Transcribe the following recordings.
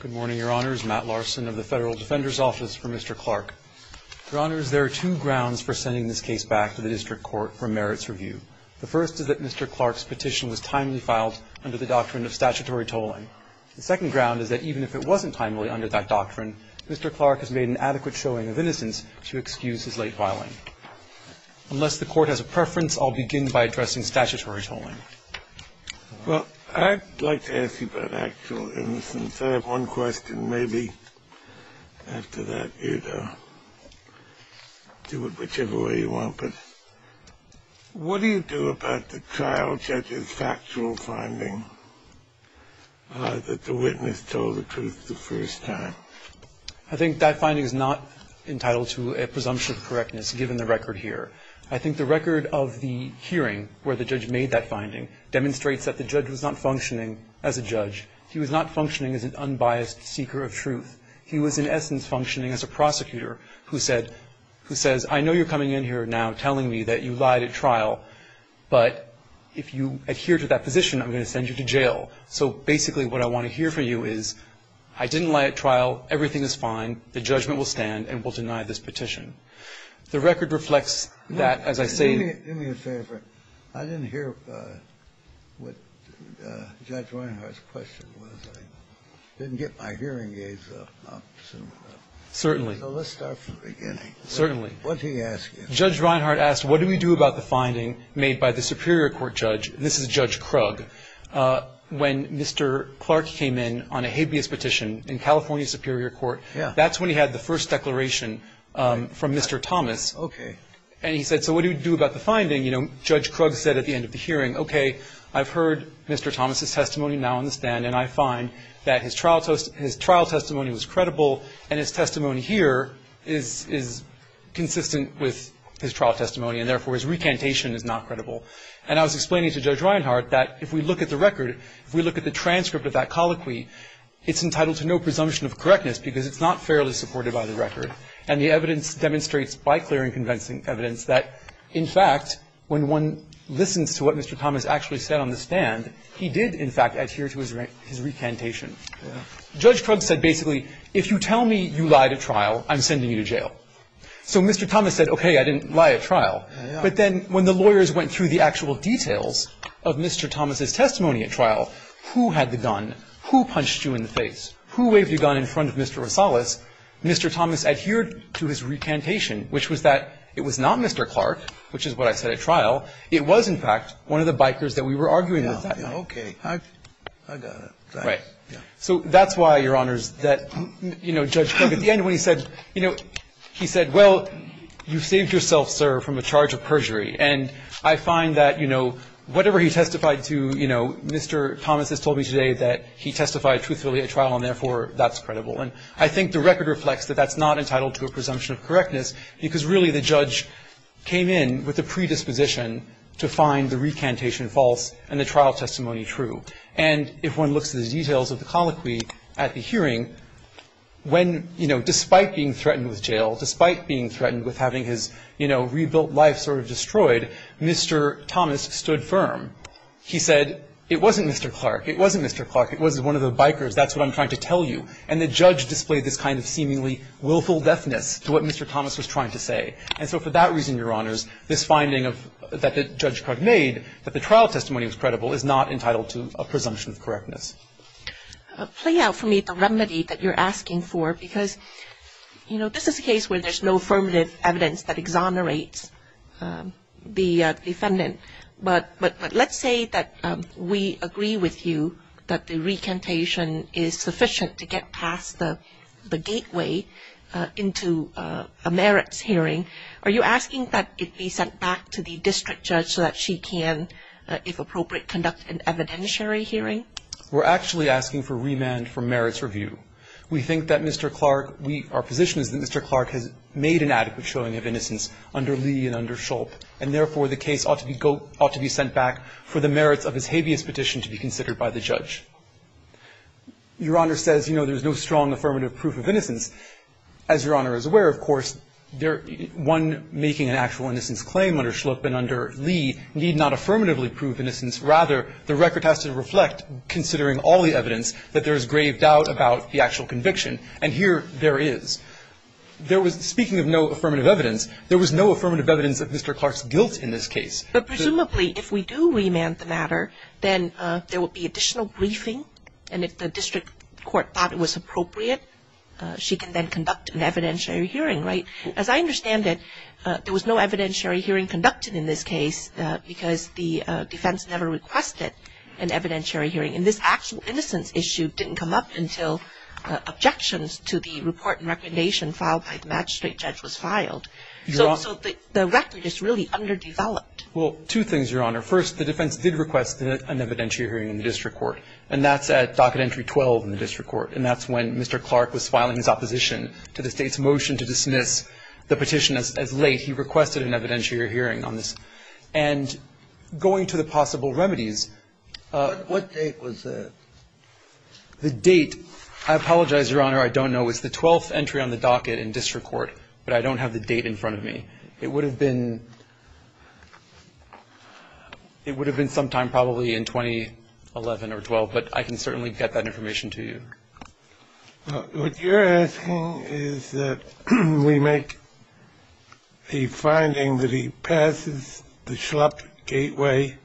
Good morning, Your Honors. Matt Larson of the Federal Defender's Office for Mr. Clark. Your Honors, there are two grounds for sending this case back to the District Court for merits review. The first is that Mr. Clark's petition was timely filed under the doctrine of statutory tolling. The second ground is that even if it wasn't timely under that doctrine, Mr. Clark has made an adequate showing of innocence to excuse his late filing. Unless the Court has a preference, I'll begin by addressing statutory tolling. Well, I'd like to ask you about actual innocence. I have one question. Maybe after that, you'd do it whichever way you want. But what do you do about the trial judge's factual finding that the witness told the truth the first time? I think that finding is not entitled to a presumption of correctness, given the record here. I think the record of the hearing, where the judge made that finding, demonstrates that the judge was not functioning as a judge. He was not functioning as an unbiased seeker of truth. He was, in essence, functioning as a prosecutor who says, I know you're coming in here now telling me that you lied at trial, but if you adhere to that position, I'm going to send you to jail. So basically what I want to hear from you is, I didn't lie at trial. Everything is fine. The judgment will stand and will deny this petition. The record reflects that, as I say. Do me a favor. I didn't hear what Judge Reinhardt's question was. I didn't get my hearing aids up. Certainly. So let's start from the beginning. Certainly. What did he ask you? Judge Reinhardt asked, what do we do about the finding made by the Superior Court judge? This is Judge Krug. When Mr. Clark came in on a habeas petition in California Superior Court, that's when he had the first declaration from Mr. Thomas. Okay. And he said, so what do we do about the finding? You know, Judge Krug said at the end of the hearing, okay, I've heard Mr. Thomas' testimony now on the stand, and I find that his trial testimony was credible, and his testimony here is consistent with his trial testimony, and therefore his recantation is not credible. And I was explaining to Judge Reinhardt that if we look at the record, if we look at the transcript of that colloquy, it's entitled to no presumption of correctness because it's not fairly supported by the record. And the evidence demonstrates by clearing convincing evidence that, in fact, when one listens to what Mr. Thomas actually said on the stand, he did, in fact, adhere to his recantation. Judge Krug said basically, if you tell me you lied at trial, I'm sending you to jail. So Mr. Thomas said, okay, I didn't lie at trial. But then when the lawyers went through the actual details of Mr. Thomas' testimony at trial, who had the gun, who punched you in the face, who waved the gun in front of Mr. Rosales, Mr. Thomas adhered to his recantation, which was that it was not Mr. Clark, which is what I said at trial. It was, in fact, one of the bikers that we were arguing with that night. Yeah, yeah, okay. I got it. Right. So that's why, Your Honors, that, you know, Judge Krug, at the end when he said, you know, he said, well, you saved yourself, sir, from a charge of perjury. And I find that, you know, whatever he testified to, you know, Mr. Thomas has told me today that he testified truthfully at trial and, therefore, that's credible. And I think the record reflects that that's not entitled to a presumption of correctness because, really, the judge came in with the predisposition to find the recantation false and the trial testimony true. And if one looks at the details of the colloquy at the hearing, when, you know, despite being threatened with jail, despite being threatened with having his, you know, his name removed from the record, Mr. Thomas stood firm. He said, it wasn't Mr. Clark. It wasn't Mr. Clark. It was one of the bikers. That's what I'm trying to tell you. And the judge displayed this kind of seemingly willful deafness to what Mr. Thomas was trying to say. And so for that reason, Your Honors, this finding that Judge Krug made, that the trial testimony was credible, is not entitled to a presumption of correctness. Play out for me the remedy that you're asking for because, you know, this is a case where there's no affirmative evidence that exonerates the defendant. But let's say that we agree with you that the recantation is sufficient to get past the gateway into a merits hearing. Are you asking that it be sent back to the district judge so that she can, if appropriate, conduct an evidentiary hearing? We're actually asking for remand for merits review. We think that Mr. Clark, our position is that Mr. Clark has made an adequate showing of innocence under Lee and under Schlupp. And therefore, the case ought to be sent back for the merits of his habeas petition to be considered by the judge. Your Honor says, you know, there's no strong affirmative proof of innocence. As Your Honor is aware, of course, one making an actual innocence claim under Schlupp and under Lee need not affirmatively prove innocence. Rather, the record has to reflect, considering all the evidence, that there is grave doubt about the actual conviction. And here there is. There was, speaking of no affirmative evidence, there was no affirmative evidence of Mr. Clark's guilt in this case. But presumably, if we do remand the matter, then there will be additional briefing. And if the district court thought it was appropriate, she can then conduct an evidentiary hearing, right? As I understand it, there was no evidentiary hearing conducted in this case because the defense never requested an evidentiary hearing. And this actual innocence issue didn't come up until objections to the report and recommendation filed by the magistrate judge was filed. So the record is really underdeveloped. Well, two things, Your Honor. First, the defense did request an evidentiary hearing in the district court. And that's at docket entry 12 in the district court. And that's when Mr. Clark was filing his opposition to the State's motion to dismiss the petition as late. He requested an evidentiary hearing on this. And going to the possible remedies, what date was that? The date, I apologize, Your Honor, I don't know. It's the 12th entry on the docket in district court. But I don't have the date in front of me. It would have been sometime probably in 2011 or 12. But I can certainly get that information to you. What you're asking is that we make the finding that he passes the schlup gateway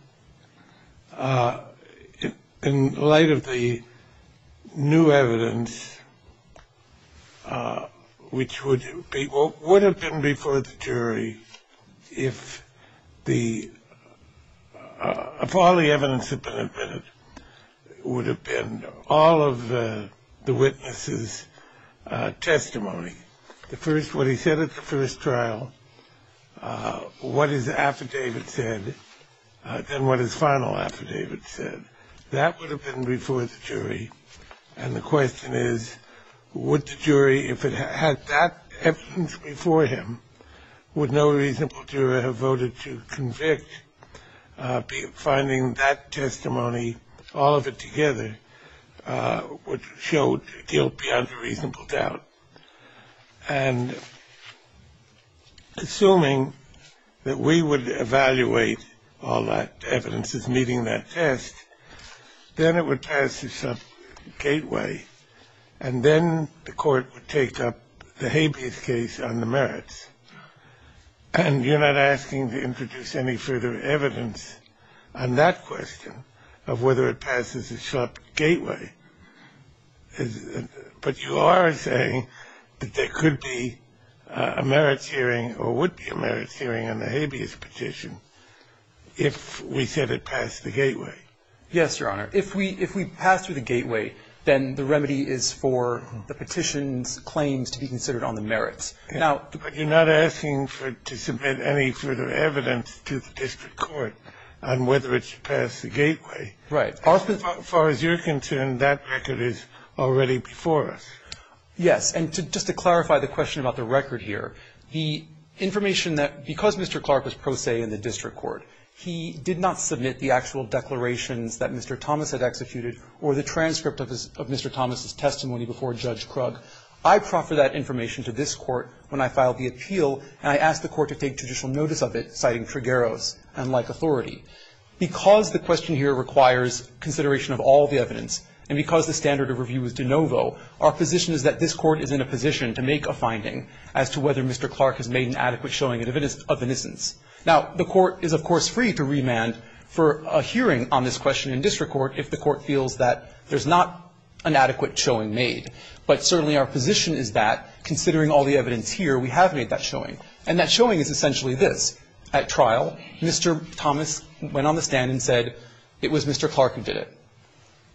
in light of the new evidence, which would have been before the jury if all the evidence had been admitted. It would have been all of the witnesses' testimony. The first, what he said at the first trial, what his affidavit said, then what his final affidavit said. That would have been before the jury. And the question is, would the jury, if it had that evidence before him, would no reasonable juror have voted to convict? Finding that testimony, all of it together, would show guilt beyond a reasonable doubt. And assuming that we would evaluate all that evidence as meeting that test, then it would pass the schlup gateway. And then the court would take up the habeas case on the merits. And you're not asking to introduce any further evidence on that question of whether it passes the schlup gateway. But you are saying that there could be a merits hearing or would be a merits hearing on the habeas petition if we said it passed the gateway. Yes, Your Honor. If we pass through the gateway, then the remedy is for the petition's claims to be considered on the merits. But you're not asking to submit any further evidence to the district court on whether it should pass the gateway. Right. As far as you're concerned, that record is already before us. Yes. And just to clarify the question about the record here, the information that because Mr. Clark was pro se in the district court, he did not submit the actual declarations that Mr. Thomas had executed or the transcript of Mr. Thomas' testimony before Judge Krug, I proffered that information to this court when I filed the appeal, and I asked the court to take judicial notice of it, citing trigeros, unlike authority. Because the question here requires consideration of all the evidence, and because the standard of review is de novo, our position is that this court is in a position to make a finding as to whether Mr. Clark has made an adequate showing of innocence. Now, the court is, of course, free to remand for a hearing on this question in district court if the court feels that there's not an adequate showing made. But certainly our position is that, considering all the evidence here, we have made that showing. And that showing is essentially this. At trial, Mr. Thomas went on the stand and said it was Mr. Clark who did it.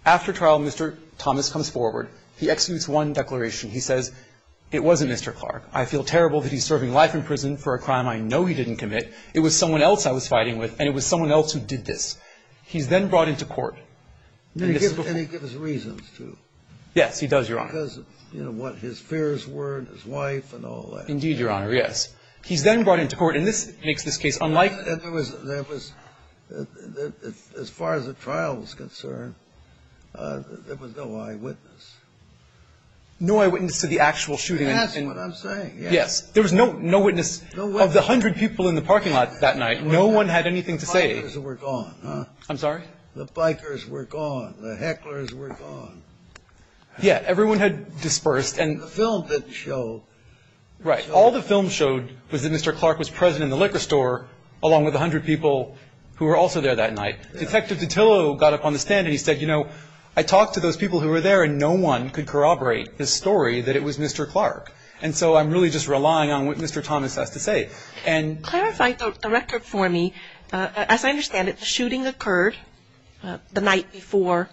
After trial, Mr. Thomas comes forward. He executes one declaration. He says, it wasn't Mr. Clark. I feel terrible that he's serving life in prison for a crime I know he didn't commit. It was someone else I was fighting with, and it was someone else who did this. He's then brought into court. And this is before the court. And he gives reasons to. Yes, he does, Your Honor. Because, you know, what his fears were and his wife and all that. Indeed, Your Honor, yes. He's then brought into court. And this makes this case unlikely. And there was as far as the trial was concerned, there was no eyewitness. No eyewitness to the actual shooting. That's what I'm saying. Yes. There was no witness of the hundred people in the parking lot that night. No one had anything to say. The bikers were gone, huh? I'm sorry? The bikers were gone. The hecklers were gone. Yeah. Everyone had dispersed. And the film didn't show. Right. All the film showed was that Mr. Clark was present in the liquor store, along with a hundred people who were also there that night. Detective DiTillo got up on the stand and he said, you know, I talked to those people who were there, and no one could corroborate the story that it was Mr. Clark. And so I'm really just relying on what Mr. Thomas has to say. Clarify the record for me. As I understand it, the shooting occurred the night before,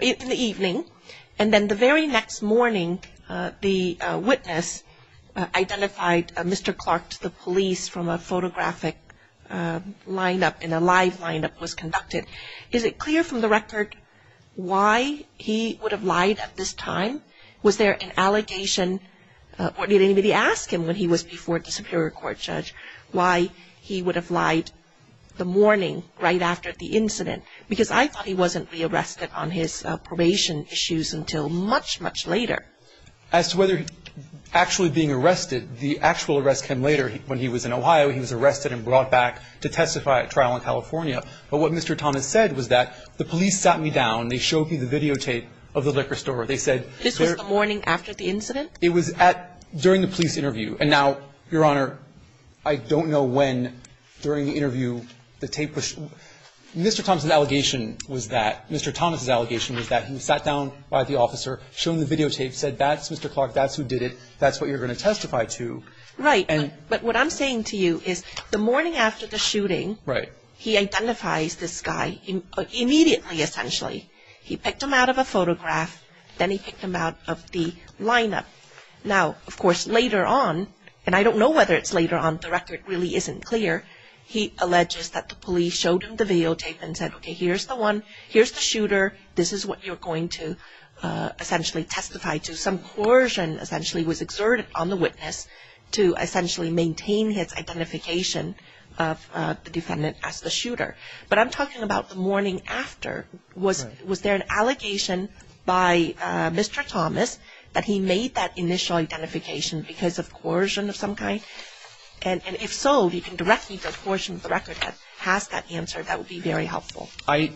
in the evening. And then the very next morning, the witness identified Mr. Clark to the police from a photographic line-up, and a live line-up was conducted. Is it clear from the record why he would have lied at this time? Was there an allegation, or did anybody ask him when he was before the Superior Court judge, why he would have lied the morning right after the incident? Because I thought he wasn't re-arrested on his probation issues until much, much later. As to whether he was actually being arrested, the actual arrest came later when he was in Ohio, he was arrested and brought back to testify at trial in California. But what Mr. Thomas said was that, the police sat me down, they showed me the videotape of the liquor store. This was the morning after the incident? It was during the police interview. And now, Your Honor, I don't know when during the interview the tape was sh- Mr. Thomas' allegation was that, Mr. Thomas' allegation was that he sat down by the officer, showed him the videotape, said that's Mr. Clark, that's who did it, that's what you're going to testify to. Right, but what I'm saying to you is the morning after the shooting, he identifies this guy immediately, essentially. He picked him out of a photograph, then he picked him out of the lineup. Now, of course, later on, and I don't know whether it's later on, the record really isn't clear, he alleges that the police showed him the videotape and said, okay, here's the one, here's the shooter, this is what you're going to essentially testify to. Some coercion, essentially, was exerted on the witness to essentially maintain his identification of the defendant as the shooter. But I'm talking about the morning after. Was there an allegation by Mr. Thomas that he made that initial identification because of coercion of some kind? And if so, if you can direct me to a portion of the record that has that answer, that would be very helpful. And,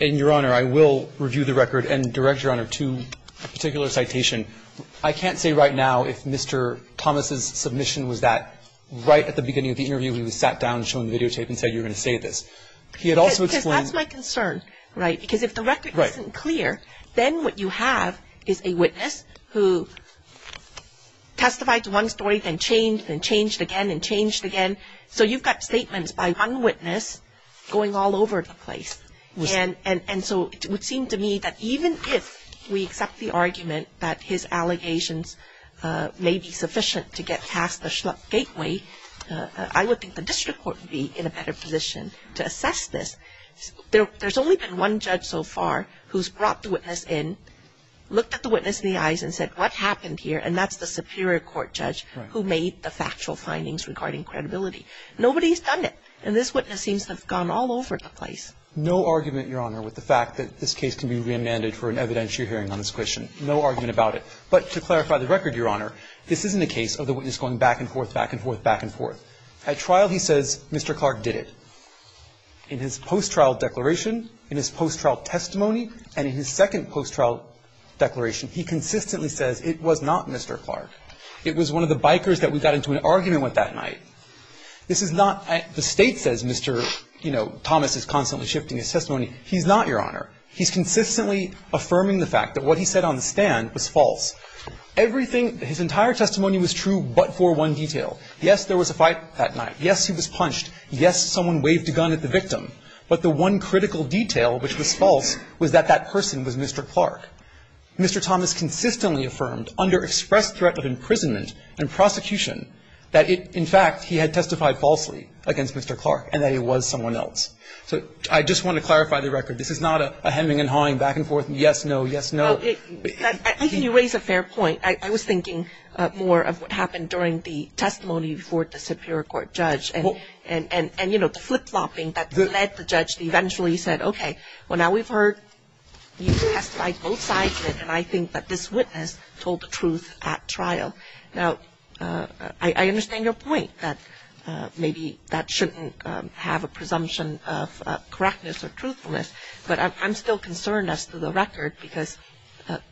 Your Honor, I will review the record and direct, Your Honor, to a particular citation. I can't say right now if Mr. Thomas' submission was that right at the beginning of the interview when he sat down and showed him the videotape and said you're going to say this. Because that's my concern, right, because if the record isn't clear, then what you have is a witness who testified to one story and changed and changed again and changed again. So you've got statements by one witness going all over the place. And so it would seem to me that even if we accept the argument that his allegations may be sufficient to get past the schluck gateway, I would think the district court would be in a better position to assess this. There's only been one judge so far who's brought the witness in, looked at the witness in the eyes and said what happened here, and that's the superior court judge who made the factual findings regarding credibility. Nobody's done it. And this witness seems to have gone all over the place. No argument, Your Honor, with the fact that this case can be remanded for an evidentiary hearing on this question. No argument about it. But to clarify the record, Your Honor, this isn't a case of the witness going back and forth, back and forth, back and forth. At trial he says Mr. Clark did it. In his post-trial declaration, in his post-trial testimony, and in his second post-trial declaration, he consistently says it was not Mr. Clark. It was one of the bikers that we got into an argument with that night. This is not the State says Mr. Thomas is constantly shifting his testimony. He's not, Your Honor. He's consistently affirming the fact that what he said on the stand was false. Everything, his entire testimony was true but for one detail. Yes, there was a fight that night. Yes, he was punched. Yes, someone waved a gun at the victim. But the one critical detail which was false was that that person was Mr. Clark. Mr. Thomas consistently affirmed under expressed threat of imprisonment and prosecution that in fact he had testified falsely against Mr. Clark and that he was someone else. So I just want to clarify the record. This is not a hemming and hawing, back and forth, yes, no, yes, no. I think you raise a fair point. I was thinking more of what happened during the testimony before the Superior Court. And I think that this witness told the truth at trial. Now, I understand your point that maybe that shouldn't have a presumption of correctness or truthfulness. But I'm still concerned as to the record because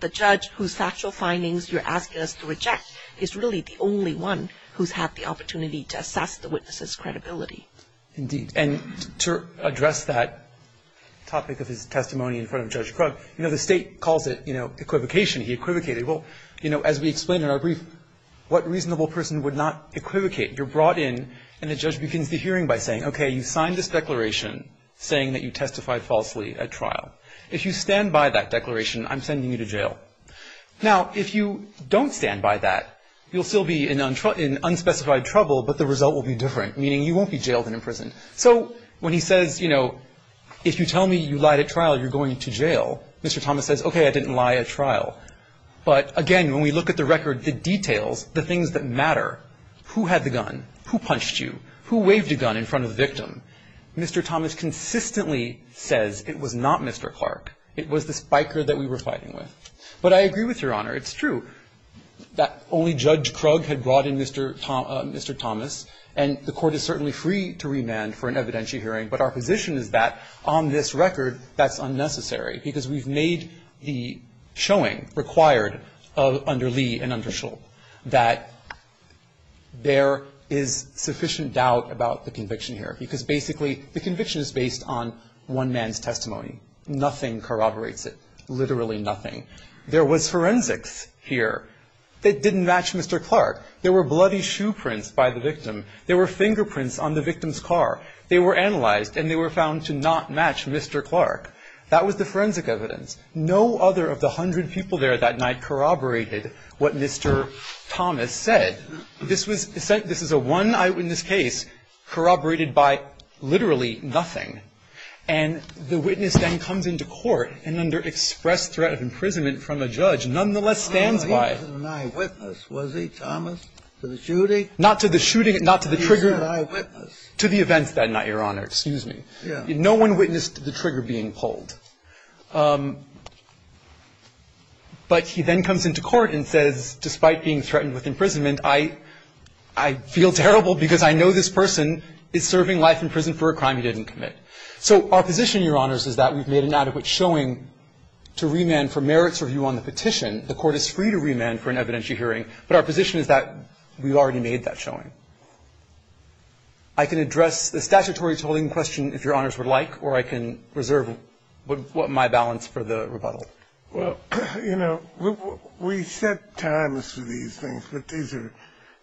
the judge whose factual findings you're asking us to reject is really the only one who's had the opportunity to assess the witness's credibility. Indeed. And to address that topic of his testimony in front of Judge Krug, you know, the state calls it, you know, equivocation. He equivocated. Well, you know, as we explained in our brief, what reasonable person would not equivocate? You're brought in and the judge begins the hearing by saying, okay, you signed this declaration saying that you testified falsely at trial. If you stand by that declaration, I'm sending you to jail. Now, if you don't stand by that, you'll still be in unspecified trouble, but the result will be different. Meaning you won't be jailed and imprisoned. So when he says, you know, if you tell me you lied at trial, you're going to jail, Mr. Thomas says, okay, I didn't lie at trial. But, again, when we look at the record, the details, the things that matter, who had the gun, who punched you, who waved a gun in front of the victim, Mr. Thomas consistently says it was not Mr. Clark. It was the spiker that we were fighting with. But I agree with Your Honor. It's true that only Judge Krug had brought in Mr. Thomas. And the Court is certainly free to remand for an evidentiary hearing. But our position is that on this record, that's unnecessary, because we've made the showing required under Lee and under Schull that there is sufficient doubt about the conviction here, because basically the conviction is based on one man's testimony. Nothing corroborates it. Literally nothing. There was forensics here that didn't match Mr. Clark. There were bloody shoe prints by the victim. There were fingerprints on the victim's car. They were analyzed, and they were found to not match Mr. Clark. That was the forensic evidence. No other of the hundred people there that night corroborated what Mr. Thomas said. This was a one-eyewitness case corroborated by literally nothing. And the witness then comes into court and under express threat of imprisonment from a judge nonetheless stands by it. He wasn't an eyewitness, was he, Thomas, to the shooting? Not to the shooting. Not to the trigger. He was an eyewitness. To the events that night, Your Honor. Excuse me. No one witnessed the trigger being pulled. But he then comes into court and says, despite being threatened with imprisonment, I feel terrible because I know this person is serving life in prison for a crime he didn't commit. So our position, Your Honors, is that we've made an adequate showing to remand for merits review on the petition. The Court is free to remand for an evidentiary hearing, but our position is that we've already made that showing. I can address the statutory tolling question, if Your Honors would like, or I can reserve what my balance for the rebuttal. Well, you know, we set times for these things, but these are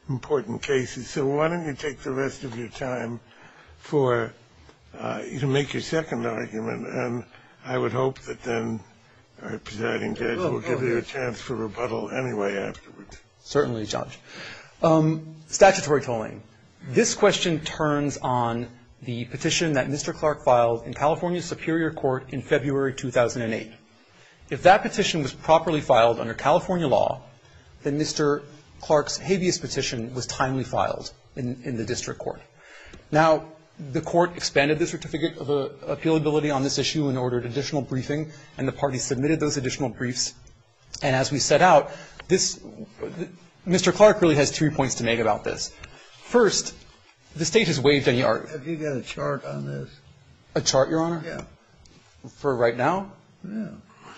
important cases. So why don't you take the rest of your time for you to make your second argument, and I would hope that then our presiding judge will give you a chance for rebuttal anyway afterwards. Certainly, Judge. Statutory tolling. This question turns on the petition that Mr. Clark filed in California Superior Court in February 2008. If that petition was properly filed under California law, then Mr. Clark's habeas petition was timely filed in the district court. Now, the Court expanded the certificate of appealability on this issue and ordered additional briefing, and the parties submitted those additional briefs. And as we set out, this Mr. Clark really has three points to make about this. First, the State has waived any argument. Have you got a chart on this? A chart, Your Honor? Yeah. For right now? Yeah.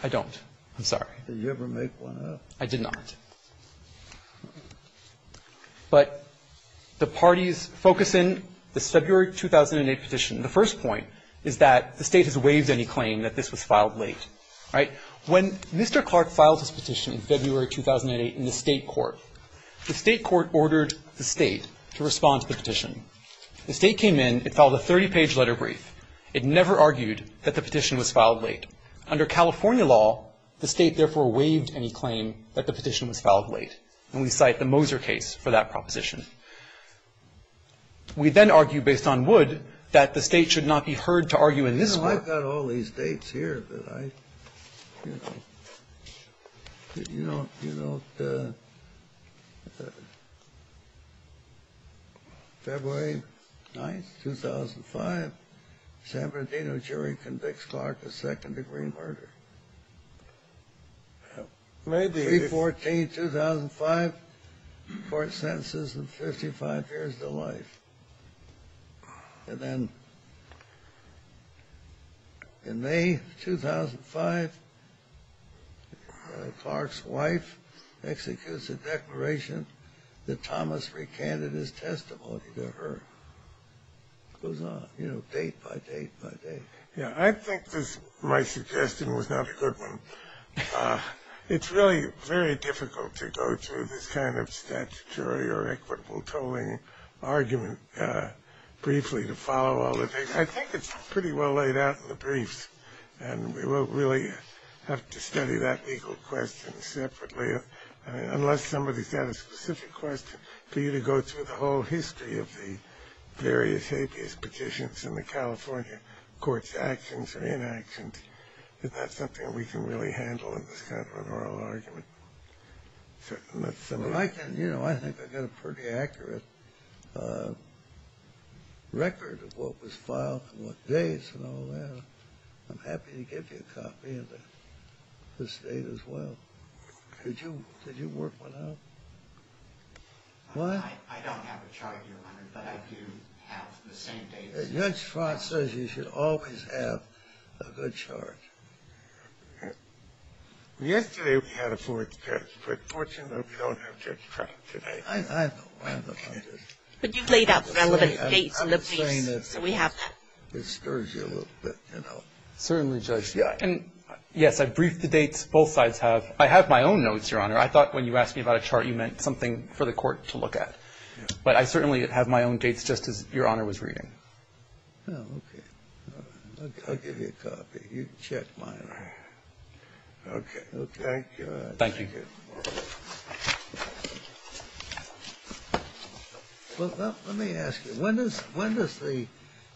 I don't. I'm sorry. Did you ever make one up? I did not. But the parties focus in this February 2008 petition. The first point is that the State has waived any claim that this was filed late. All right? When Mr. Clark filed his petition in February 2008 in the State court, the State court ordered the State to respond to the petition. The State came in. It filed a 30-page letter brief. It never argued that the petition was filed late. Under California law, the State therefore waived any claim that the petition was filed late. And we cite the Moser case for that proposition. We then argue, based on Wood, that the State should not be heard to argue in this court. You know, I've got all these dates here, but I, you know, you don't, you don't know. February 9th, 2005, San Bernardino jury convicts Clark of second-degree murder. May be. 3-14-2005, court sentences him 55 years to life. And then in May 2005, Clark's wife executes a declaration that Thomas recanted his testimony to her. It goes on, you know, date by date by date. Yeah, I think this, my suggestion was not a good one. It's really very difficult to go through this kind of statutory or equitable controlling argument briefly to follow all the dates. I think it's pretty well laid out in the briefs, and we will really have to study that legal question separately, unless somebody's got a specific question, for you to go through the whole history of the various habeas petitions in the California courts, actions or inactions. Is that something we can really handle in this kind of an oral argument? Well, I can, you know, I think I got a pretty accurate record of what was filed and what dates and all that. I'm happy to give you a copy of this date as well. Did you work one out? I don't have a chart, Your Honor, but I do have the same dates. Judge Franz says you should always have a good chart. Yesterday, we had a fourth test, but fortunately, we don't have that chart today. I know. But you've laid out the relevant dates in the briefs, so we have that. It stirs you a little bit, you know. Certainly, Judge. Yes, I briefed the dates both sides have. I have my own notes, Your Honor. I thought when you asked me about a chart, you meant something for the court to look at. But I certainly have my own dates, just as Your Honor was reading. Oh, okay. I'll give you a copy. You can check mine. Okay. Thank you. Thank you. Let me ask you, when does the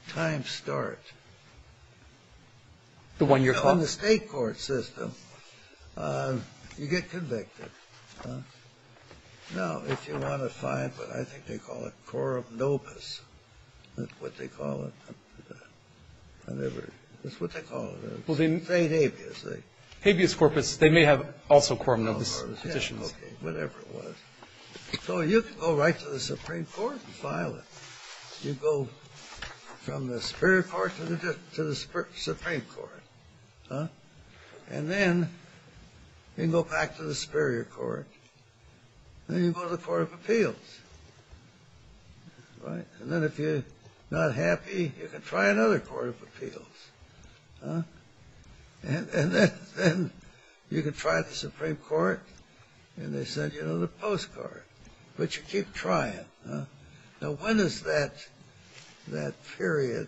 time start? The one you're calling. In the state court system, you get convicted. Now, if you want to find what I think they call it, coram nobis, what they call it. It's what they call it. State habeas. Habeas corpus. They may have also coram nobis petitions. Whatever it was. So you can go right to the Supreme Court and file it. You go from the Superior Court to the Supreme Court. And then you can go back to the Superior Court. Then you go to the Court of Appeals. Right? And then if you're not happy, you can try another Court of Appeals. And then you can try the Supreme Court, and they send you another postcard. But you keep trying. Now, when is that period,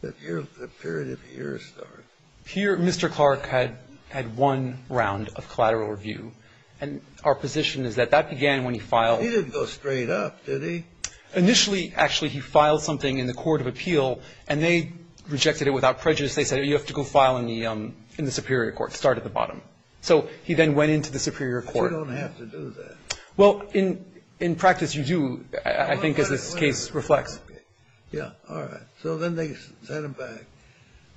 the period of your story? Here, Mr. Clark had one round of collateral review. And our position is that that began when he filed. He didn't go straight up, did he? Initially, actually, he filed something in the Court of Appeal, and they rejected it without prejudice. They said, you have to go file in the Superior Court, start at the bottom. So he then went into the Superior Court. You don't have to do that. Well, in practice, you do, I think, as this case reflects. Yeah, all right. So then they sent him back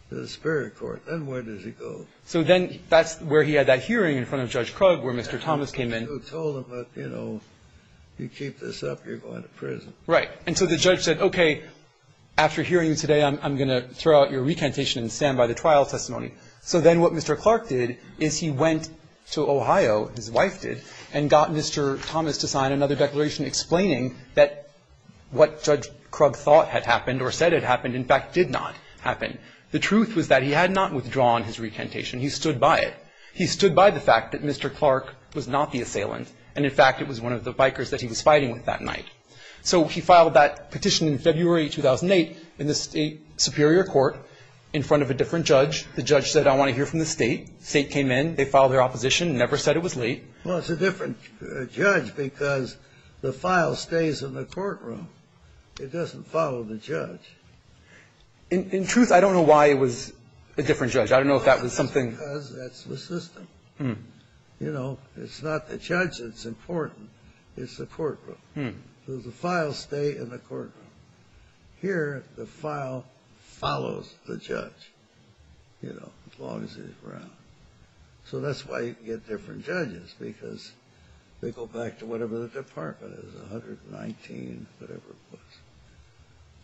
to the Superior Court. Then where does he go? So then that's where he had that hearing in front of Judge Krug, where Mr. Thomas came in. You told him, you know, you keep this up, you're going to prison. Right. And so the judge said, okay, after hearing you today, I'm going to throw out your recantation and stand by the trial testimony. So then what Mr. Clark did is he went to Ohio, his wife did, and got Mr. Thomas to sign another declaration explaining that what Judge Krug thought had happened or said had happened, in fact, did not happen. The truth was that he had not withdrawn his recantation. He stood by it. He stood by the fact that Mr. Clark was not the assailant, and in fact it was one of the bikers that he was fighting with that night. So he filed that petition in February 2008 in the State Superior Court in front of a different judge. The judge said, I want to hear from the State. The State came in. They filed their opposition, never said it was late. Well, it's a different judge because the file stays in the courtroom. It doesn't follow the judge. In truth, I don't know why it was a different judge. I don't know if that was something ---- That's because that's the system. You know, it's not the judge that's important. It's the courtroom. So the files stay in the courtroom. Here, the file follows the judge, you know, as long as he's around. So that's why you get different judges, because they go back to whatever the department is, 119, whatever it was.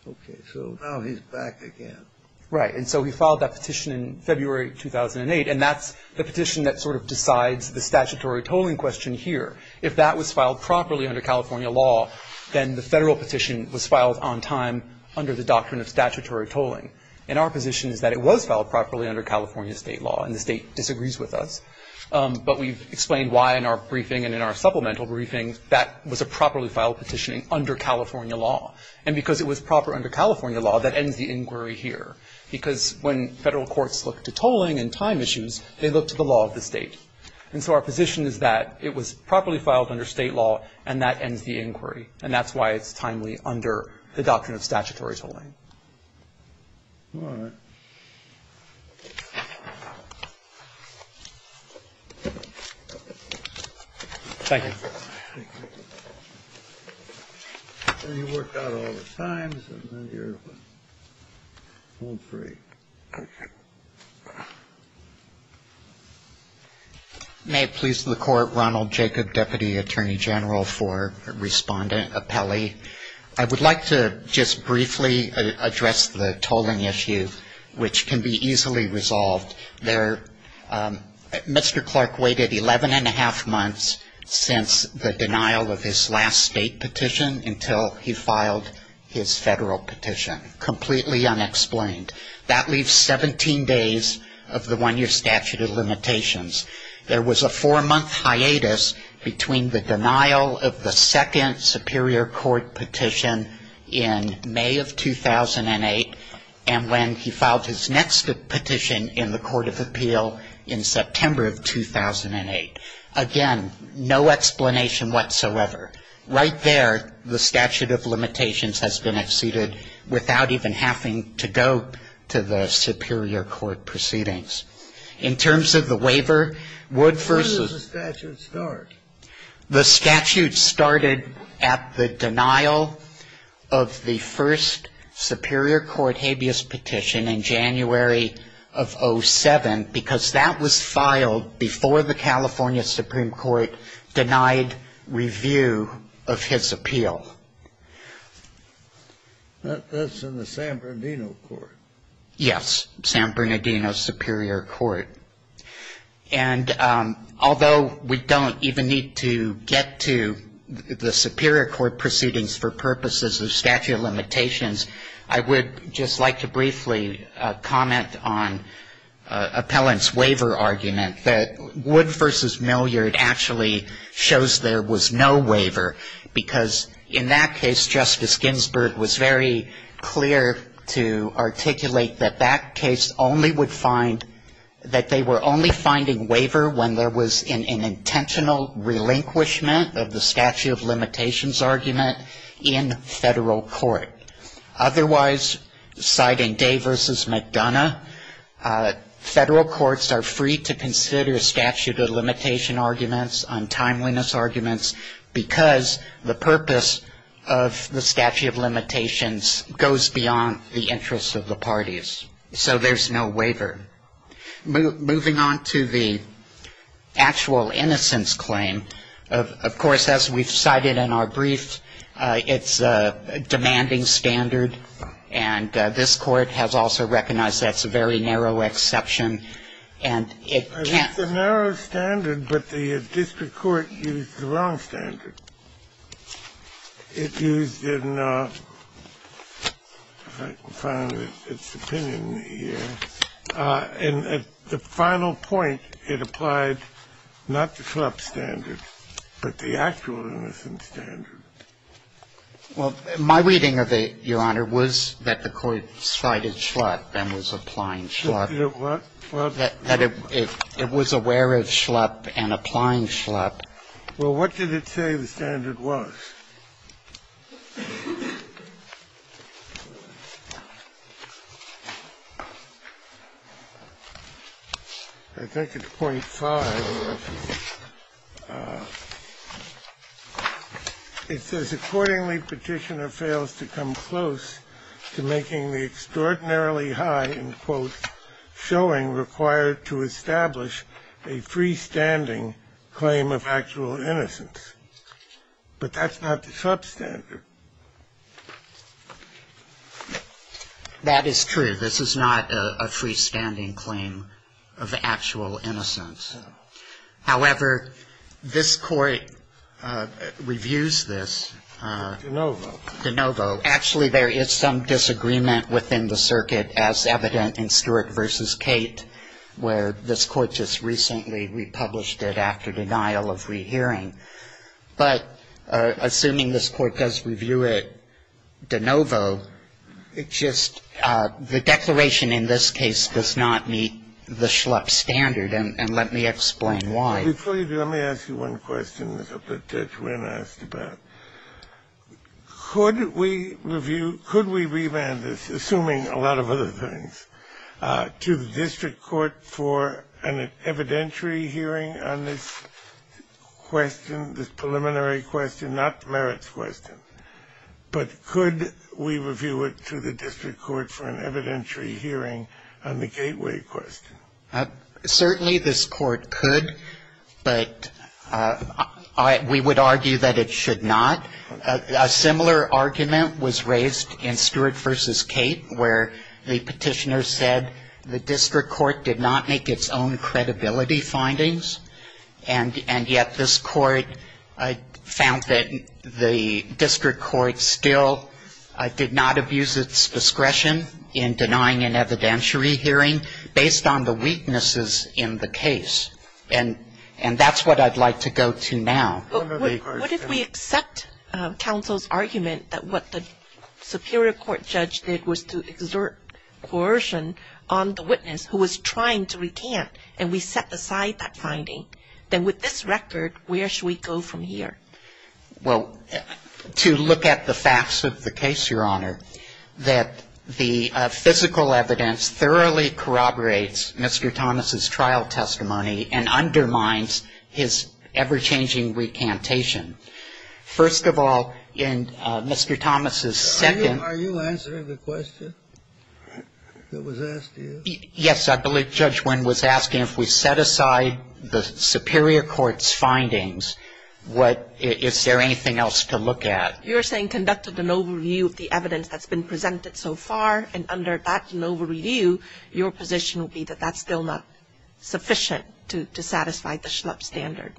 Okay, so now he's back again. Right, and so he filed that petition in February 2008, and that's the petition that sort of decides the statutory tolling question here. If that was filed properly under California law, then the federal petition was filed on time under the doctrine of statutory tolling. And our position is that it was filed properly under California state law, and the state disagrees with us. But we've explained why in our briefing and in our supplemental briefing that was a properly filed petitioning under California law. And because it was proper under California law, that ends the inquiry here. Because when federal courts look to tolling and time issues, they look to the law of the state. And so our position is that it was properly filed under state law, and that ends the inquiry. And that's why it's timely under the doctrine of statutory tolling. All right. Thank you. May it please the Court, Ronald Jacob, Deputy Attorney General for Respondent Appellee. I would like to just briefly address the tolling issue. It's one of the most difficult issues, which can be easily resolved. Mr. Clark waited 11-1⁄2 months since the denial of his last state petition until he filed his federal petition. Completely unexplained. That leaves 17 days of the one-year statute of limitations. There was a four-month hiatus between the denial of the second Superior Court petition in May of 2008 and when he filed his next petition in the Court of Appeal in September of 2008. Again, no explanation whatsoever. Right there, the statute of limitations has been exceeded without even having to go to the Superior Court proceedings. In terms of the waiver, Wood v. Where does the statute start? The statute started at the denial of the first Superior Court habeas petition in January of 07, because that was filed before the California Supreme Court denied review of his appeal. That's in the San Bernardino Court. Yes, San Bernardino Superior Court. And although we don't even need to get to the Superior Court proceedings for purposes of statute of limitations, I would just like to briefly comment on Appellant's waiver argument, that Wood v. Milliard actually shows there was no waiver, because in that case, Justice Ginsburg was very clear to articulate that that case only would find, that they were only finding waiver when there was an intentional relinquishment of the statute of limitations argument in federal court. Otherwise, citing Day v. McDonough, federal courts are free to consider statute of limitation arguments on timeliness arguments, because the purpose of the statute of limitations goes beyond the interests of the parties. So there's no waiver. Moving on to the actual innocence claim, of course, as we've cited in our brief, it's a demanding standard, and this Court has also recognized that's a very narrow exception. And it can't It's a narrow standard, but the district court used the wrong standard. It used an, if I can find its opinion here, and at the final point, it applied not the SHLUP standard, but the actual innocence standard. Well, my reading of it, Your Honor, was that the Court cited SHLUP and was applying SHLUP. That it was aware of SHLUP and applying SHLUP. Well, what did it say the standard was? I think it's .5. It says, Accordingly, Petitioner fails to come close to making the extraordinarily high, in quote, showing required to establish a freestanding claim of actual innocence. But that's not the SHLUP standard. That is true. This is not a freestanding claim of actual innocence. However, this Court reviews this. De novo. De novo. Actually, there is some disagreement within the circuit, as evident in Stewart v. Kate, where this Court just recently republished it after denial of rehearing. But assuming this Court does review it de novo, it just, the declaration in this case does not meet the SHLUP standard. And let me explain why. Before you do, let me ask you one question that Judge Wynn asked about. Could we review, could we revamp this, assuming a lot of other things, to the district court for an evidentiary hearing on this question, this preliminary question, not the merits question? But could we review it to the district court for an evidentiary hearing on the gateway question? Certainly, this Court could, but we would argue that it should not. A similar argument was raised in Stewart v. Kate, where the Petitioner said the district court did not make its own credibility findings, and yet this Court found that the district court still did not abuse its discretion in denying an evidentiary hearing based on the weaknesses in the case. And that's what I'd like to go to now. What if we accept counsel's argument that what the superior court judge did was to exert coercion on the witness who was trying to recant, and we set aside that finding? Then with this record, where should we go from here? Well, to look at the facts of the case, Your Honor, that the physical evidence thoroughly corroborates Mr. Thomas' trial testimony and undermines his ever-changing recantation. First of all, in Mr. Thomas' second — Are you answering the question that was asked to you? Yes. I believe Judge Wynn was asking if we set aside the superior court's findings, is there anything else to look at? You're saying conducted an overview of the evidence that's been presented so far, and under that overview, your position would be that that's still not sufficient to satisfy the Schlupp standard.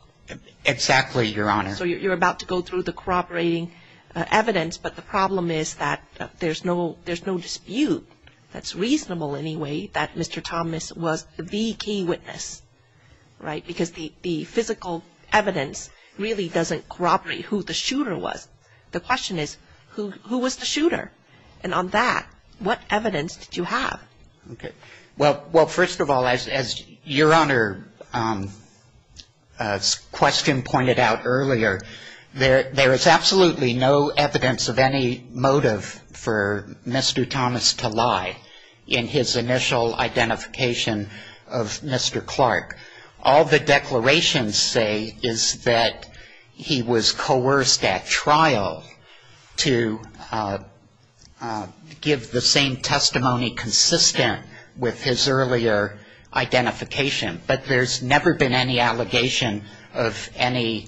Exactly, Your Honor. So you're about to go through the corroborating evidence, but the problem is that there's no dispute, that's reasonable anyway, that Mr. Thomas was the key witness, right? Because the physical evidence really doesn't corroborate who the shooter was. The question is, who was the shooter? And on that, what evidence did you have? Okay. Well, first of all, as Your Honor's question pointed out earlier, there is absolutely no evidence of any motive for Mr. Thomas to lie in his initial identification of Mr. Clark. All the declarations say is that he was coerced at trial to give the same testimony consistent with his earlier identification. But there's never been any allegation of any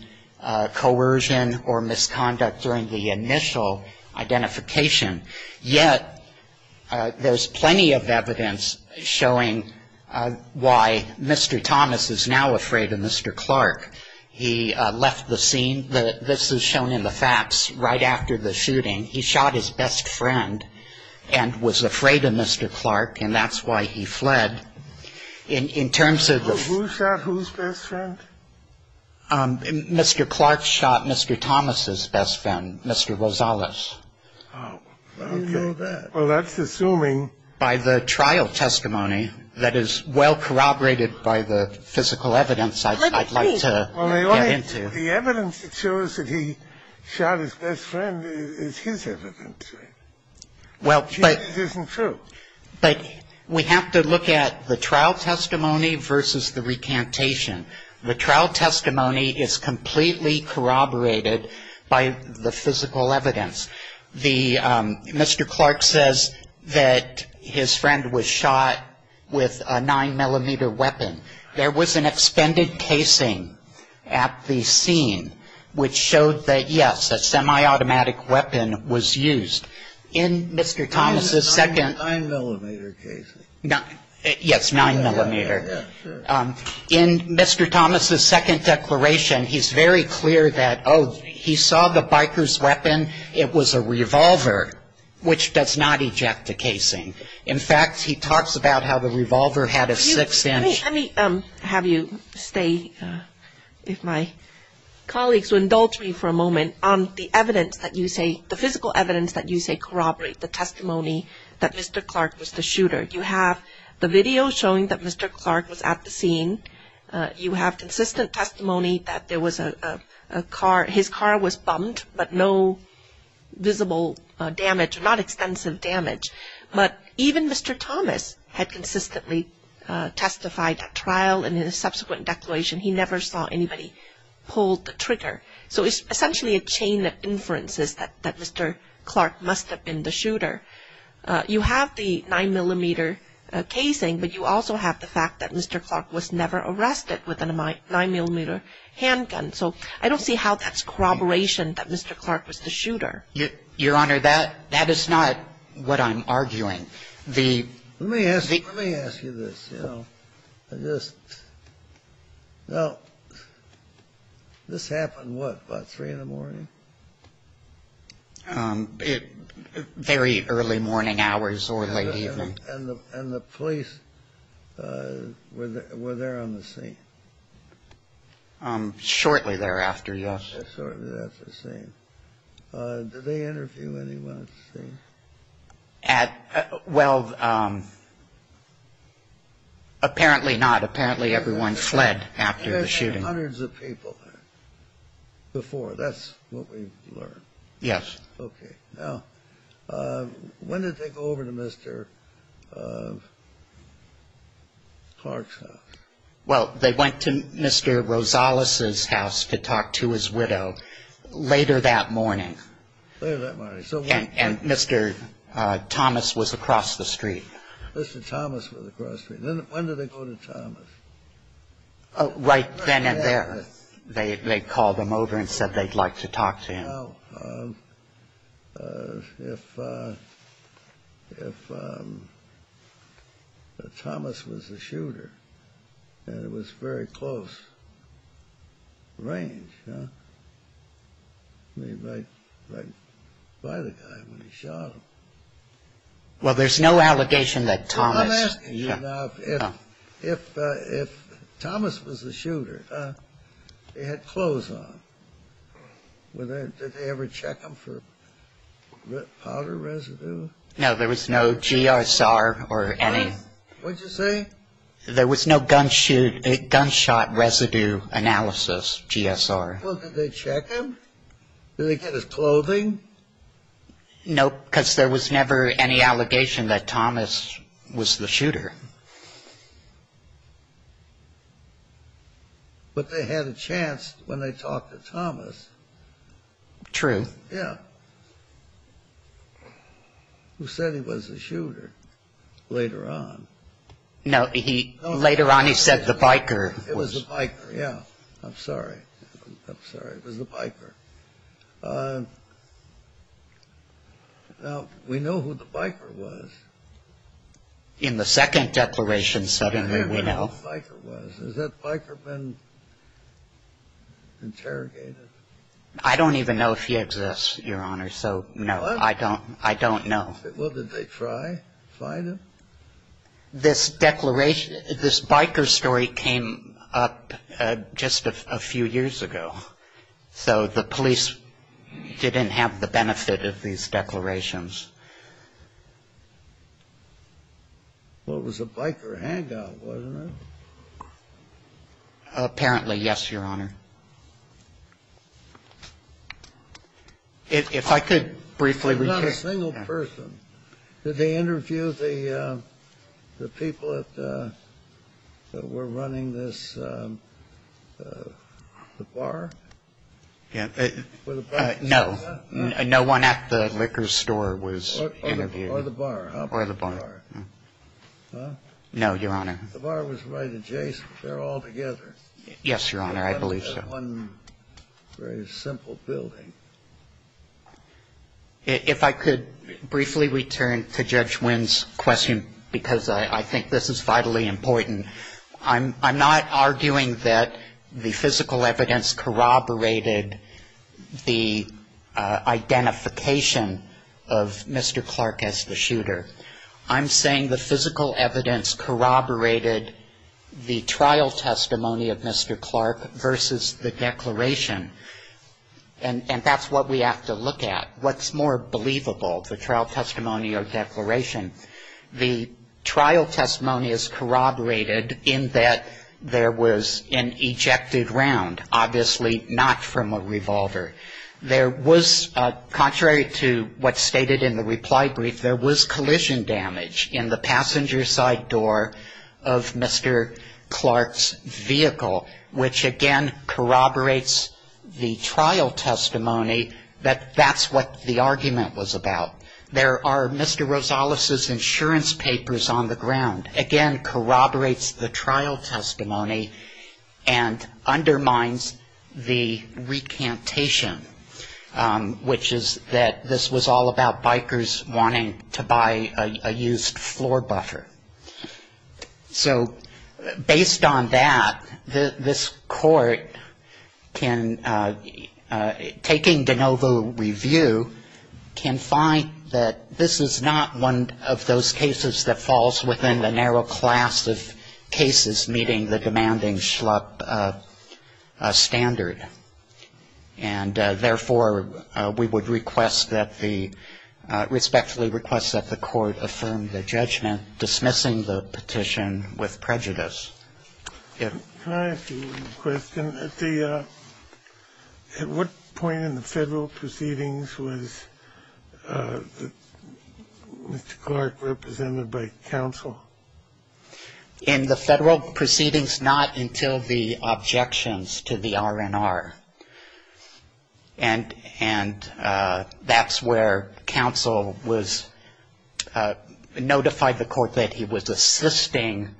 coercion or misconduct during the initial identification. Yet there's plenty of evidence showing why Mr. Thomas is now afraid of Mr. Clark. He left the scene, this is shown in the facts, right after the shooting. He shot his best friend and was afraid of Mr. Clark, and that's why he fled. In terms of the ---- Who shot whose best friend? Mr. Clark shot Mr. Thomas's best friend, Mr. Rosales. Oh. You know that. Well, that's assuming ---- By the trial testimony that is well corroborated by the physical evidence I'd like to get into. Well, the evidence that shows that he shot his best friend is his evidence. Well, but ---- It isn't true. But we have to look at the trial testimony versus the recantation. The trial testimony is completely corroborated by the physical evidence. Mr. Clark says that his friend was shot with a 9-millimeter weapon. There was an expended casing at the scene which showed that, yes, a semiautomatic weapon was used. In Mr. Thomas's second ---- 9-millimeter casing. Yes, 9-millimeter. Yes, sure. In Mr. Thomas's second declaration, he's very clear that, oh, he saw the biker's weapon. It was a revolver which does not eject the casing. In fact, he talks about how the revolver had a 6-inch ---- Let me have you stay, if my colleagues will indulge me for a moment, on the evidence that you say, the physical evidence that you say corroborates the testimony that Mr. Clark was the shooter. You have the video showing that Mr. Clark was at the scene. You have consistent testimony that there was a car. His car was bumped, but no visible damage, not extensive damage. But even Mr. Thomas had consistently testified at trial, and in his subsequent declaration, he never saw anybody pull the trigger. So it's essentially a chain of inferences that Mr. Clark must have been the shooter. You have the 9-millimeter casing, but you also have the fact that Mr. Clark was never arrested with a 9-millimeter handgun. So I don't see how that's corroboration that Mr. Clark was the shooter. Your Honor, that is not what I'm arguing. The ---- Let me ask you this. I just ---- Now, this happened, what, about 3 in the morning? Very early morning hours or late evening. And the police were there on the scene? Shortly thereafter, yes. Did they interview anyone at the scene? Well, apparently not. Apparently everyone fled after the shooting. They had hundreds of people there before. That's what we've learned. Yes. Okay. Now, when did they go over to Mr. Clark's house? Well, they went to Mr. Rosales' house to talk to his widow later that morning. Later that morning. And Mr. Thomas was across the street. Mr. Thomas was across the street. When did they go to Thomas? Right then and there. They called him over and said they'd like to talk to him. Now, if Thomas was the shooter and it was very close range, right by the guy when he shot him. Well, there's no allegation that Thomas ---- Now, if Thomas was the shooter, they had clothes on. Did they ever check him for powder residue? No, there was no G.S.R. or any. What did you say? There was no gunshot residue analysis, G.S.R. Well, did they check him? Did they get his clothing? No, because there was never any allegation that Thomas was the shooter. But they had a chance when they talked to Thomas. True. Yeah. Who said he was the shooter later on. No, later on he said the biker was. It was the biker, yeah. I'm sorry. I'm sorry. It was the biker. Now, we know who the biker was. In the second declaration, certainly we know. We know who the biker was. Has that biker been interrogated? I don't even know if he exists, Your Honor. So, no. I don't know. Well, did they try to find him? This declaration, this biker story came up just a few years ago. So, the police didn't have the benefit of these declarations. Well, it was a biker hangout, wasn't it? Apparently, yes, Your Honor. If I could briefly repeat. It was not a single person. Did they interview the people that were running this, the bar? No. No one at the liquor store was interviewed. Or the bar. Or the bar. No, Your Honor. The bar was right adjacent. They're all together. Yes, Your Honor. I believe so. One very simple building. If I could briefly return to Judge Wynn's question, because I think this is vitally important. I'm not arguing that the physical evidence corroborated the identification of Mr. Clark as the shooter. I'm saying the physical evidence corroborated the trial testimony of Mr. Clark versus the declaration. And that's what we have to look at. What's more believable, the trial testimony or declaration? The trial testimony is corroborated in that there was an ejected round, obviously not from a revolver. There was, contrary to what's stated in the reply brief, there was collision damage in the passenger side door of Mr. Clark's vehicle, which again corroborates the trial testimony that that's what the argument was about. There are Mr. Rosales' insurance papers on the ground. Again, corroborates the trial testimony and undermines the recantation, which is that this was all about bikers wanting to buy a used floor buffer. So based on that, this court can, taking de novo review, can find that this is not one of those cases that falls within the narrow class of cases meeting the demanding schlup standard. And therefore, we would request that the – respectfully request that the court affirm the judgment dismissing the petition with prejudice. Can I ask you a question? At what point in the Federal proceedings was Mr. Clark represented by counsel? In the Federal proceedings, not until the objections to the R&R. And that's where counsel was – notified the court that he was assisting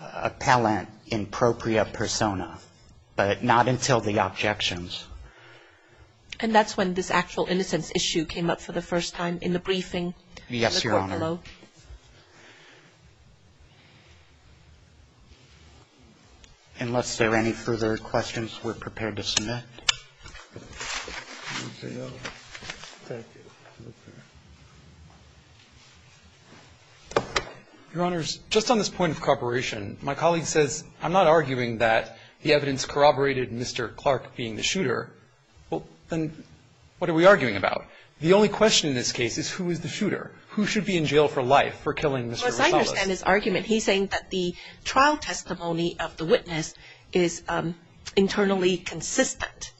appellant in proprio persona, but not until the objections. And that's when this actual innocence issue came up for the first time in the briefing? Yes, Your Honor. Hello? Unless there are any further questions, we're prepared to submit. Your Honors, just on this point of corroboration, my colleague says I'm not arguing that the evidence corroborated Mr. Clark being the shooter. Well, then what are we arguing about? The fact that it's not the case that the evidence corroborated Mr. Clark being the shooter. It's not the fact that the evidence corroborated Mr. Clark being the shooter. Who should be in jail for life for killing Mr. Rivales? I understand his argument. He's saying that the trial testimony of the witness is internally consistent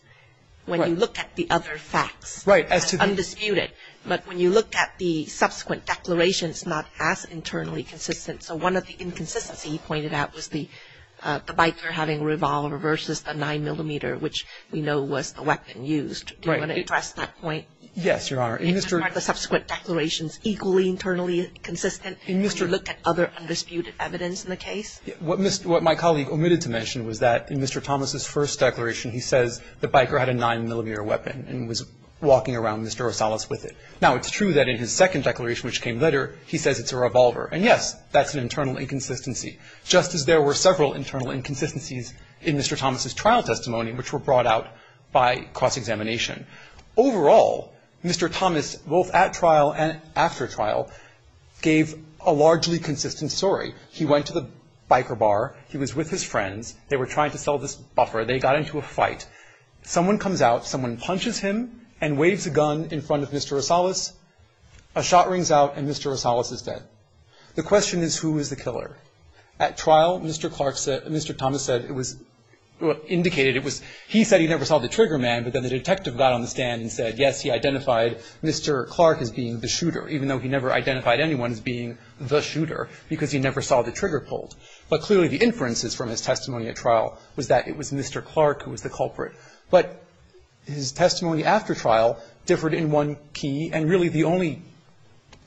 when you look at the other facts. Right. Undisputed. But when you look at the subsequent declarations, it's not as internally consistent. So one of the inconsistencies he pointed out was the biker having a revolver versus the 9-millimeter, which we know was the weapon used. Do you want to address that point? Yes, Your Honor. Aren't the subsequent declarations equally internally consistent when you look at other undisputed evidence in the case? What my colleague omitted to mention was that in Mr. Thomas' first declaration, he says the biker had a 9-millimeter weapon and was walking around Mr. Rosales with it. Now, it's true that in his second declaration, which came later, he says it's a revolver. And, yes, that's an internal inconsistency, just as there were several internal inconsistencies in Mr. Thomas' trial testimony, which were brought out by cross-examination. Overall, Mr. Thomas, both at trial and after trial, gave a largely consistent story. He went to the biker bar. He was with his friends. They were trying to sell this buffer. They got into a fight. Someone comes out. Someone punches him and waves a gun in front of Mr. Rosales. A shot rings out, and Mr. Rosales is dead. The question is, who is the killer? At trial, Mr. Thomas said it was indicated he said he never saw the trigger man, but then the detective got on the stand and said, yes, he identified Mr. Clark as being the shooter, even though he never identified anyone as being the shooter because he never saw the trigger pulled. But clearly the inferences from his testimony at trial was that it was Mr. Clark who was the culprit. But his testimony after trial differed in one key, and really the only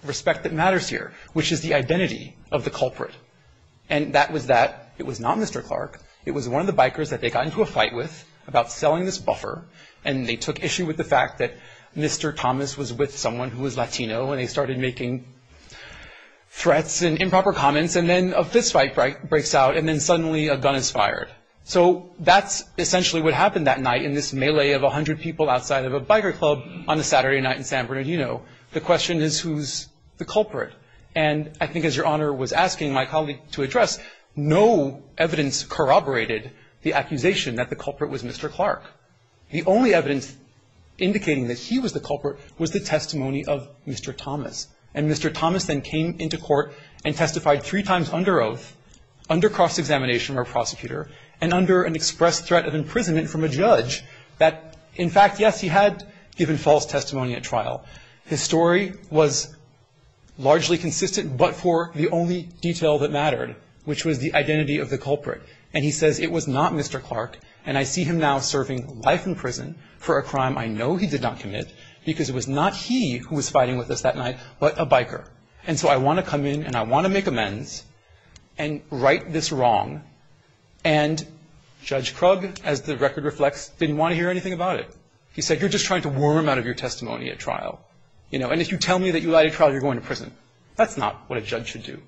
respect that matters here, which is the identity of the culprit, and that was that it was not Mr. Clark. It was one of the bikers that they got into a fight with about selling this buffer, and they took issue with the fact that Mr. Thomas was with someone who was Latino, and they started making threats and improper comments, and then a fist fight breaks out, and then suddenly a gun is fired. So that's essentially what happened that night in this melee of 100 people outside of a biker club on a Saturday night in San Bernardino. The question is, who's the culprit? And I think as Your Honor was asking my colleague to address, no evidence corroborated the accusation that the culprit was Mr. Clark. The only evidence indicating that he was the culprit was the testimony of Mr. Thomas. And Mr. Thomas then came into court and testified three times under oath, under cross-examination from a prosecutor, and under an express threat of imprisonment from a judge that, in fact, yes, he had given false testimony at trial. His story was largely consistent but for the only detail that mattered, which was the identity of the culprit. And he says, it was not Mr. Clark, and I see him now serving life in prison for a crime I know he did not commit because it was not he who was fighting with us that night but a biker. And so I want to come in and I want to make amends and right this wrong. And Judge Krug, as the record reflects, didn't want to hear anything about it. He said, you're just trying to worm out of your testimony at trial. And if you tell me that you lied at trial, you're going to prison. That's not what a judge should do.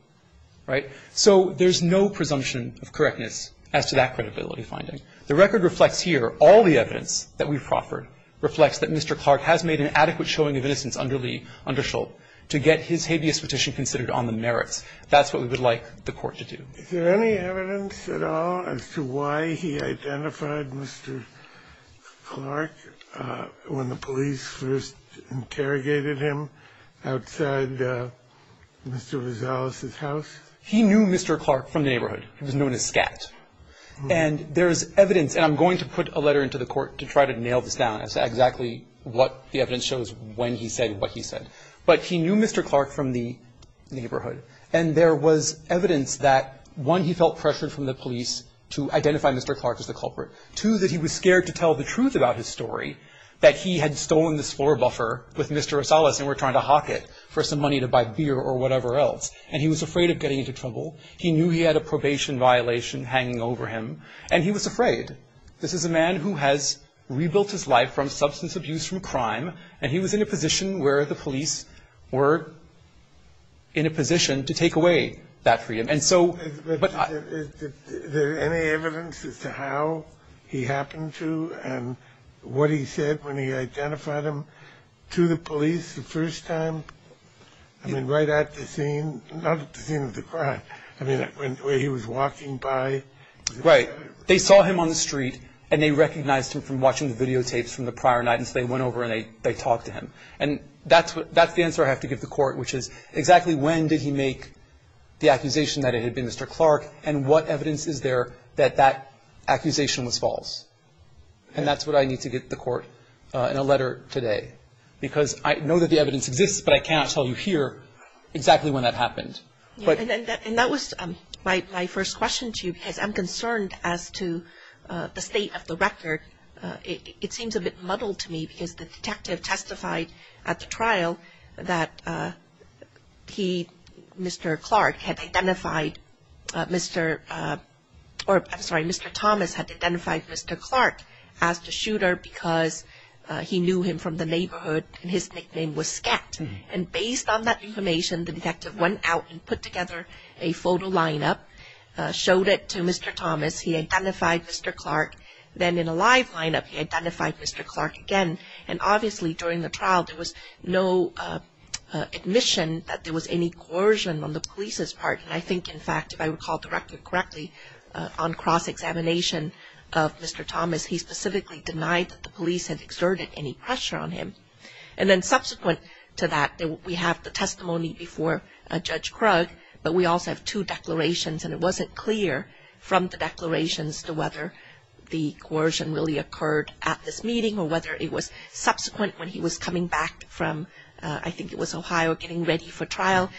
Right? So there's no presumption of correctness as to that credibility finding. The record reflects here all the evidence that we've proffered reflects that Mr. Clark has made an adequate showing of innocence under Lee, under Schult to get his habeas petition considered on the merits. That's what we would like the Court to do. Is there any evidence at all as to why he identified Mr. Clark when the police first interrogated him outside Mr. Rosales' house? He knew Mr. Clark from the neighborhood. He was known as Scat. And there's evidence, and I'm going to put a letter into the Court to try to nail this down as to exactly what the evidence shows when he said what he said. But he knew Mr. Clark from the neighborhood. And there was evidence that, one, he felt pressured from the police to identify Mr. Clark as the culprit. Two, that he was scared to tell the truth about his story, that he had stolen this floor buffer with Mr. Rosales and were trying to hawk it for some money to buy beer or whatever else. And he was afraid of getting into trouble. He knew he had a probation violation hanging over him, and he was afraid. This is a man who has rebuilt his life from substance abuse from crime, and he was in a position where the police were in a position to take away that freedom. Is there any evidence as to how he happened to and what he said when he identified him to the police the first time? I mean, right at the scene? Not at the scene of the crime. I mean, where he was walking by? Right. They saw him on the street, and they recognized him from watching the videotapes from the prior night, since they went over and they talked to him. And that's the answer I have to give the court, which is exactly when did he make the accusation that it had been Mr. Clark, and what evidence is there that that accusation was false? And that's what I need to get the court in a letter today, because I know that the evidence exists, but I cannot tell you here exactly when that happened. And that was my first question to you, because I'm concerned as to the state of the record. It seems a bit muddled to me, because the detective testified at the trial that he, Mr. Clark, had identified Mr. Thomas had identified Mr. Clark as the shooter because he knew him from the neighborhood and his nickname was Scat. And based on that information, the detective went out and put together a photo lineup, showed it to Mr. Thomas, he identified Mr. Clark. Then in a live lineup, he identified Mr. Clark again. And obviously during the trial, there was no admission that there was any coercion on the police's part. And I think, in fact, if I recall correctly, on cross-examination of Mr. Thomas, he specifically denied that the police had exerted any pressure on him. And then subsequent to that, we have the testimony before Judge Krug, but we also have two declarations, and it wasn't clear from the declarations to whether the coercion really occurred at this meeting or whether it was subsequent when he was coming back from, I think it was Ohio, getting ready for trial.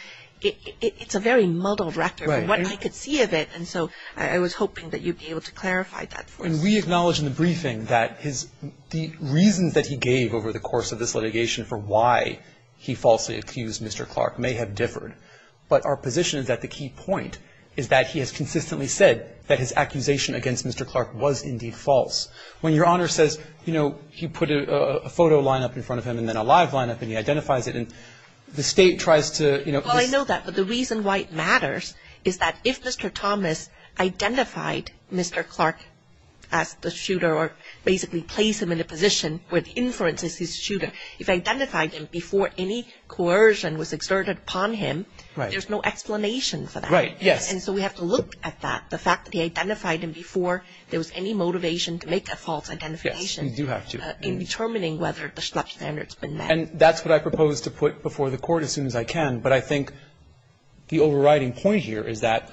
It's a very muddled record from what I could see of it. And so I was hoping that you'd be able to clarify that for us. And we acknowledge in the briefing that the reasons that he gave over the course of this litigation for why he falsely accused Mr. Clark may have differed. But our position is that the key point is that he has consistently said that his accusation against Mr. Clark was indeed false. When Your Honor says, you know, he put a photo lineup in front of him and then a live lineup and he identifies it, and the State tries to, you know, his — Well, I know that. But the reason why it matters is that if Mr. Thomas identified Mr. Clark as the shooter or basically placed him in a position where the inference is his shooter, if I identified him before any coercion was exerted upon him, there's no explanation for that. Right. Yes. And so we have to look at that, the fact that he identified him before there was any motivation to make a false identification. Yes. You do have to. In determining whether the Schlepp standard's been met. And that's what I propose to put before the Court as soon as I can. But I think the overriding point here is that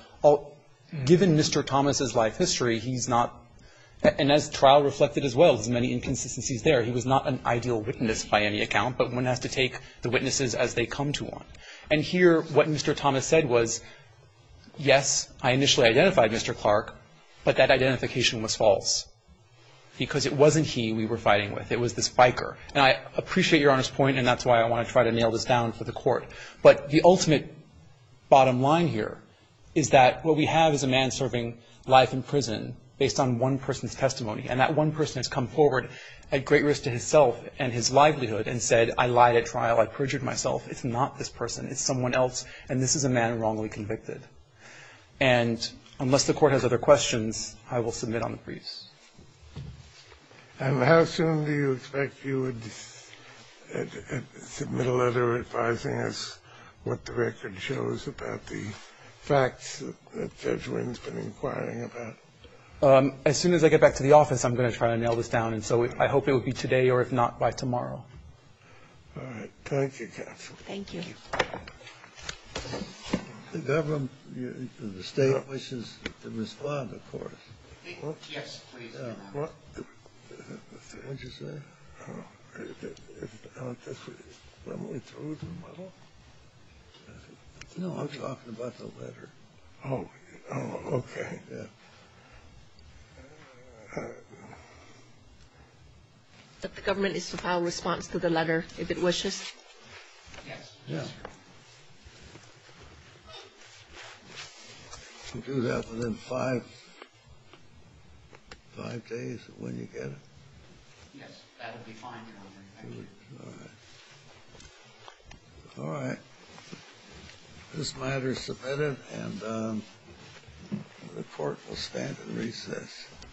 given Mr. Thomas's life history, he's not — and as trial reflected as well, there's many inconsistencies there. He was not an ideal witness by any account, but one has to take the witnesses as they come to one. And here, what Mr. Thomas said was, yes, I initially identified Mr. Clark, but that identification was false because it wasn't he we were fighting with. It was this biker. And I appreciate Your Honor's point, and that's why I want to try to nail this down for the Court. But the ultimate bottom line here is that what we have is a man serving life in prison based on one person's testimony. And that one person has come forward at great risk to himself and his livelihood and said, I lied at trial. I perjured myself. It's not this person. It's someone else. And this is a man wrongly convicted. And unless the Court has other questions, I will submit on the briefs. And how soon do you expect you would submit a letter advising us what the record shows about the facts that Judge Wynn's been inquiring about? As soon as I get back to the office, I'm going to try to nail this down. And so I hope it would be today or, if not, by tomorrow. All right. Thank you, counsel. Thank you. The government, the State wishes to respond, of course. Yes, please. What did you say? When we're through tomorrow? No, I'm talking about the letter. Oh, okay. Yeah. The government is to file a response to the letter if it wishes? Yes. Yeah. You do that within five days of when you get it? Yes. That would be fine, Your Honor. Thank you. All right. All right. This matter is submitted, and the Court will stand at recess.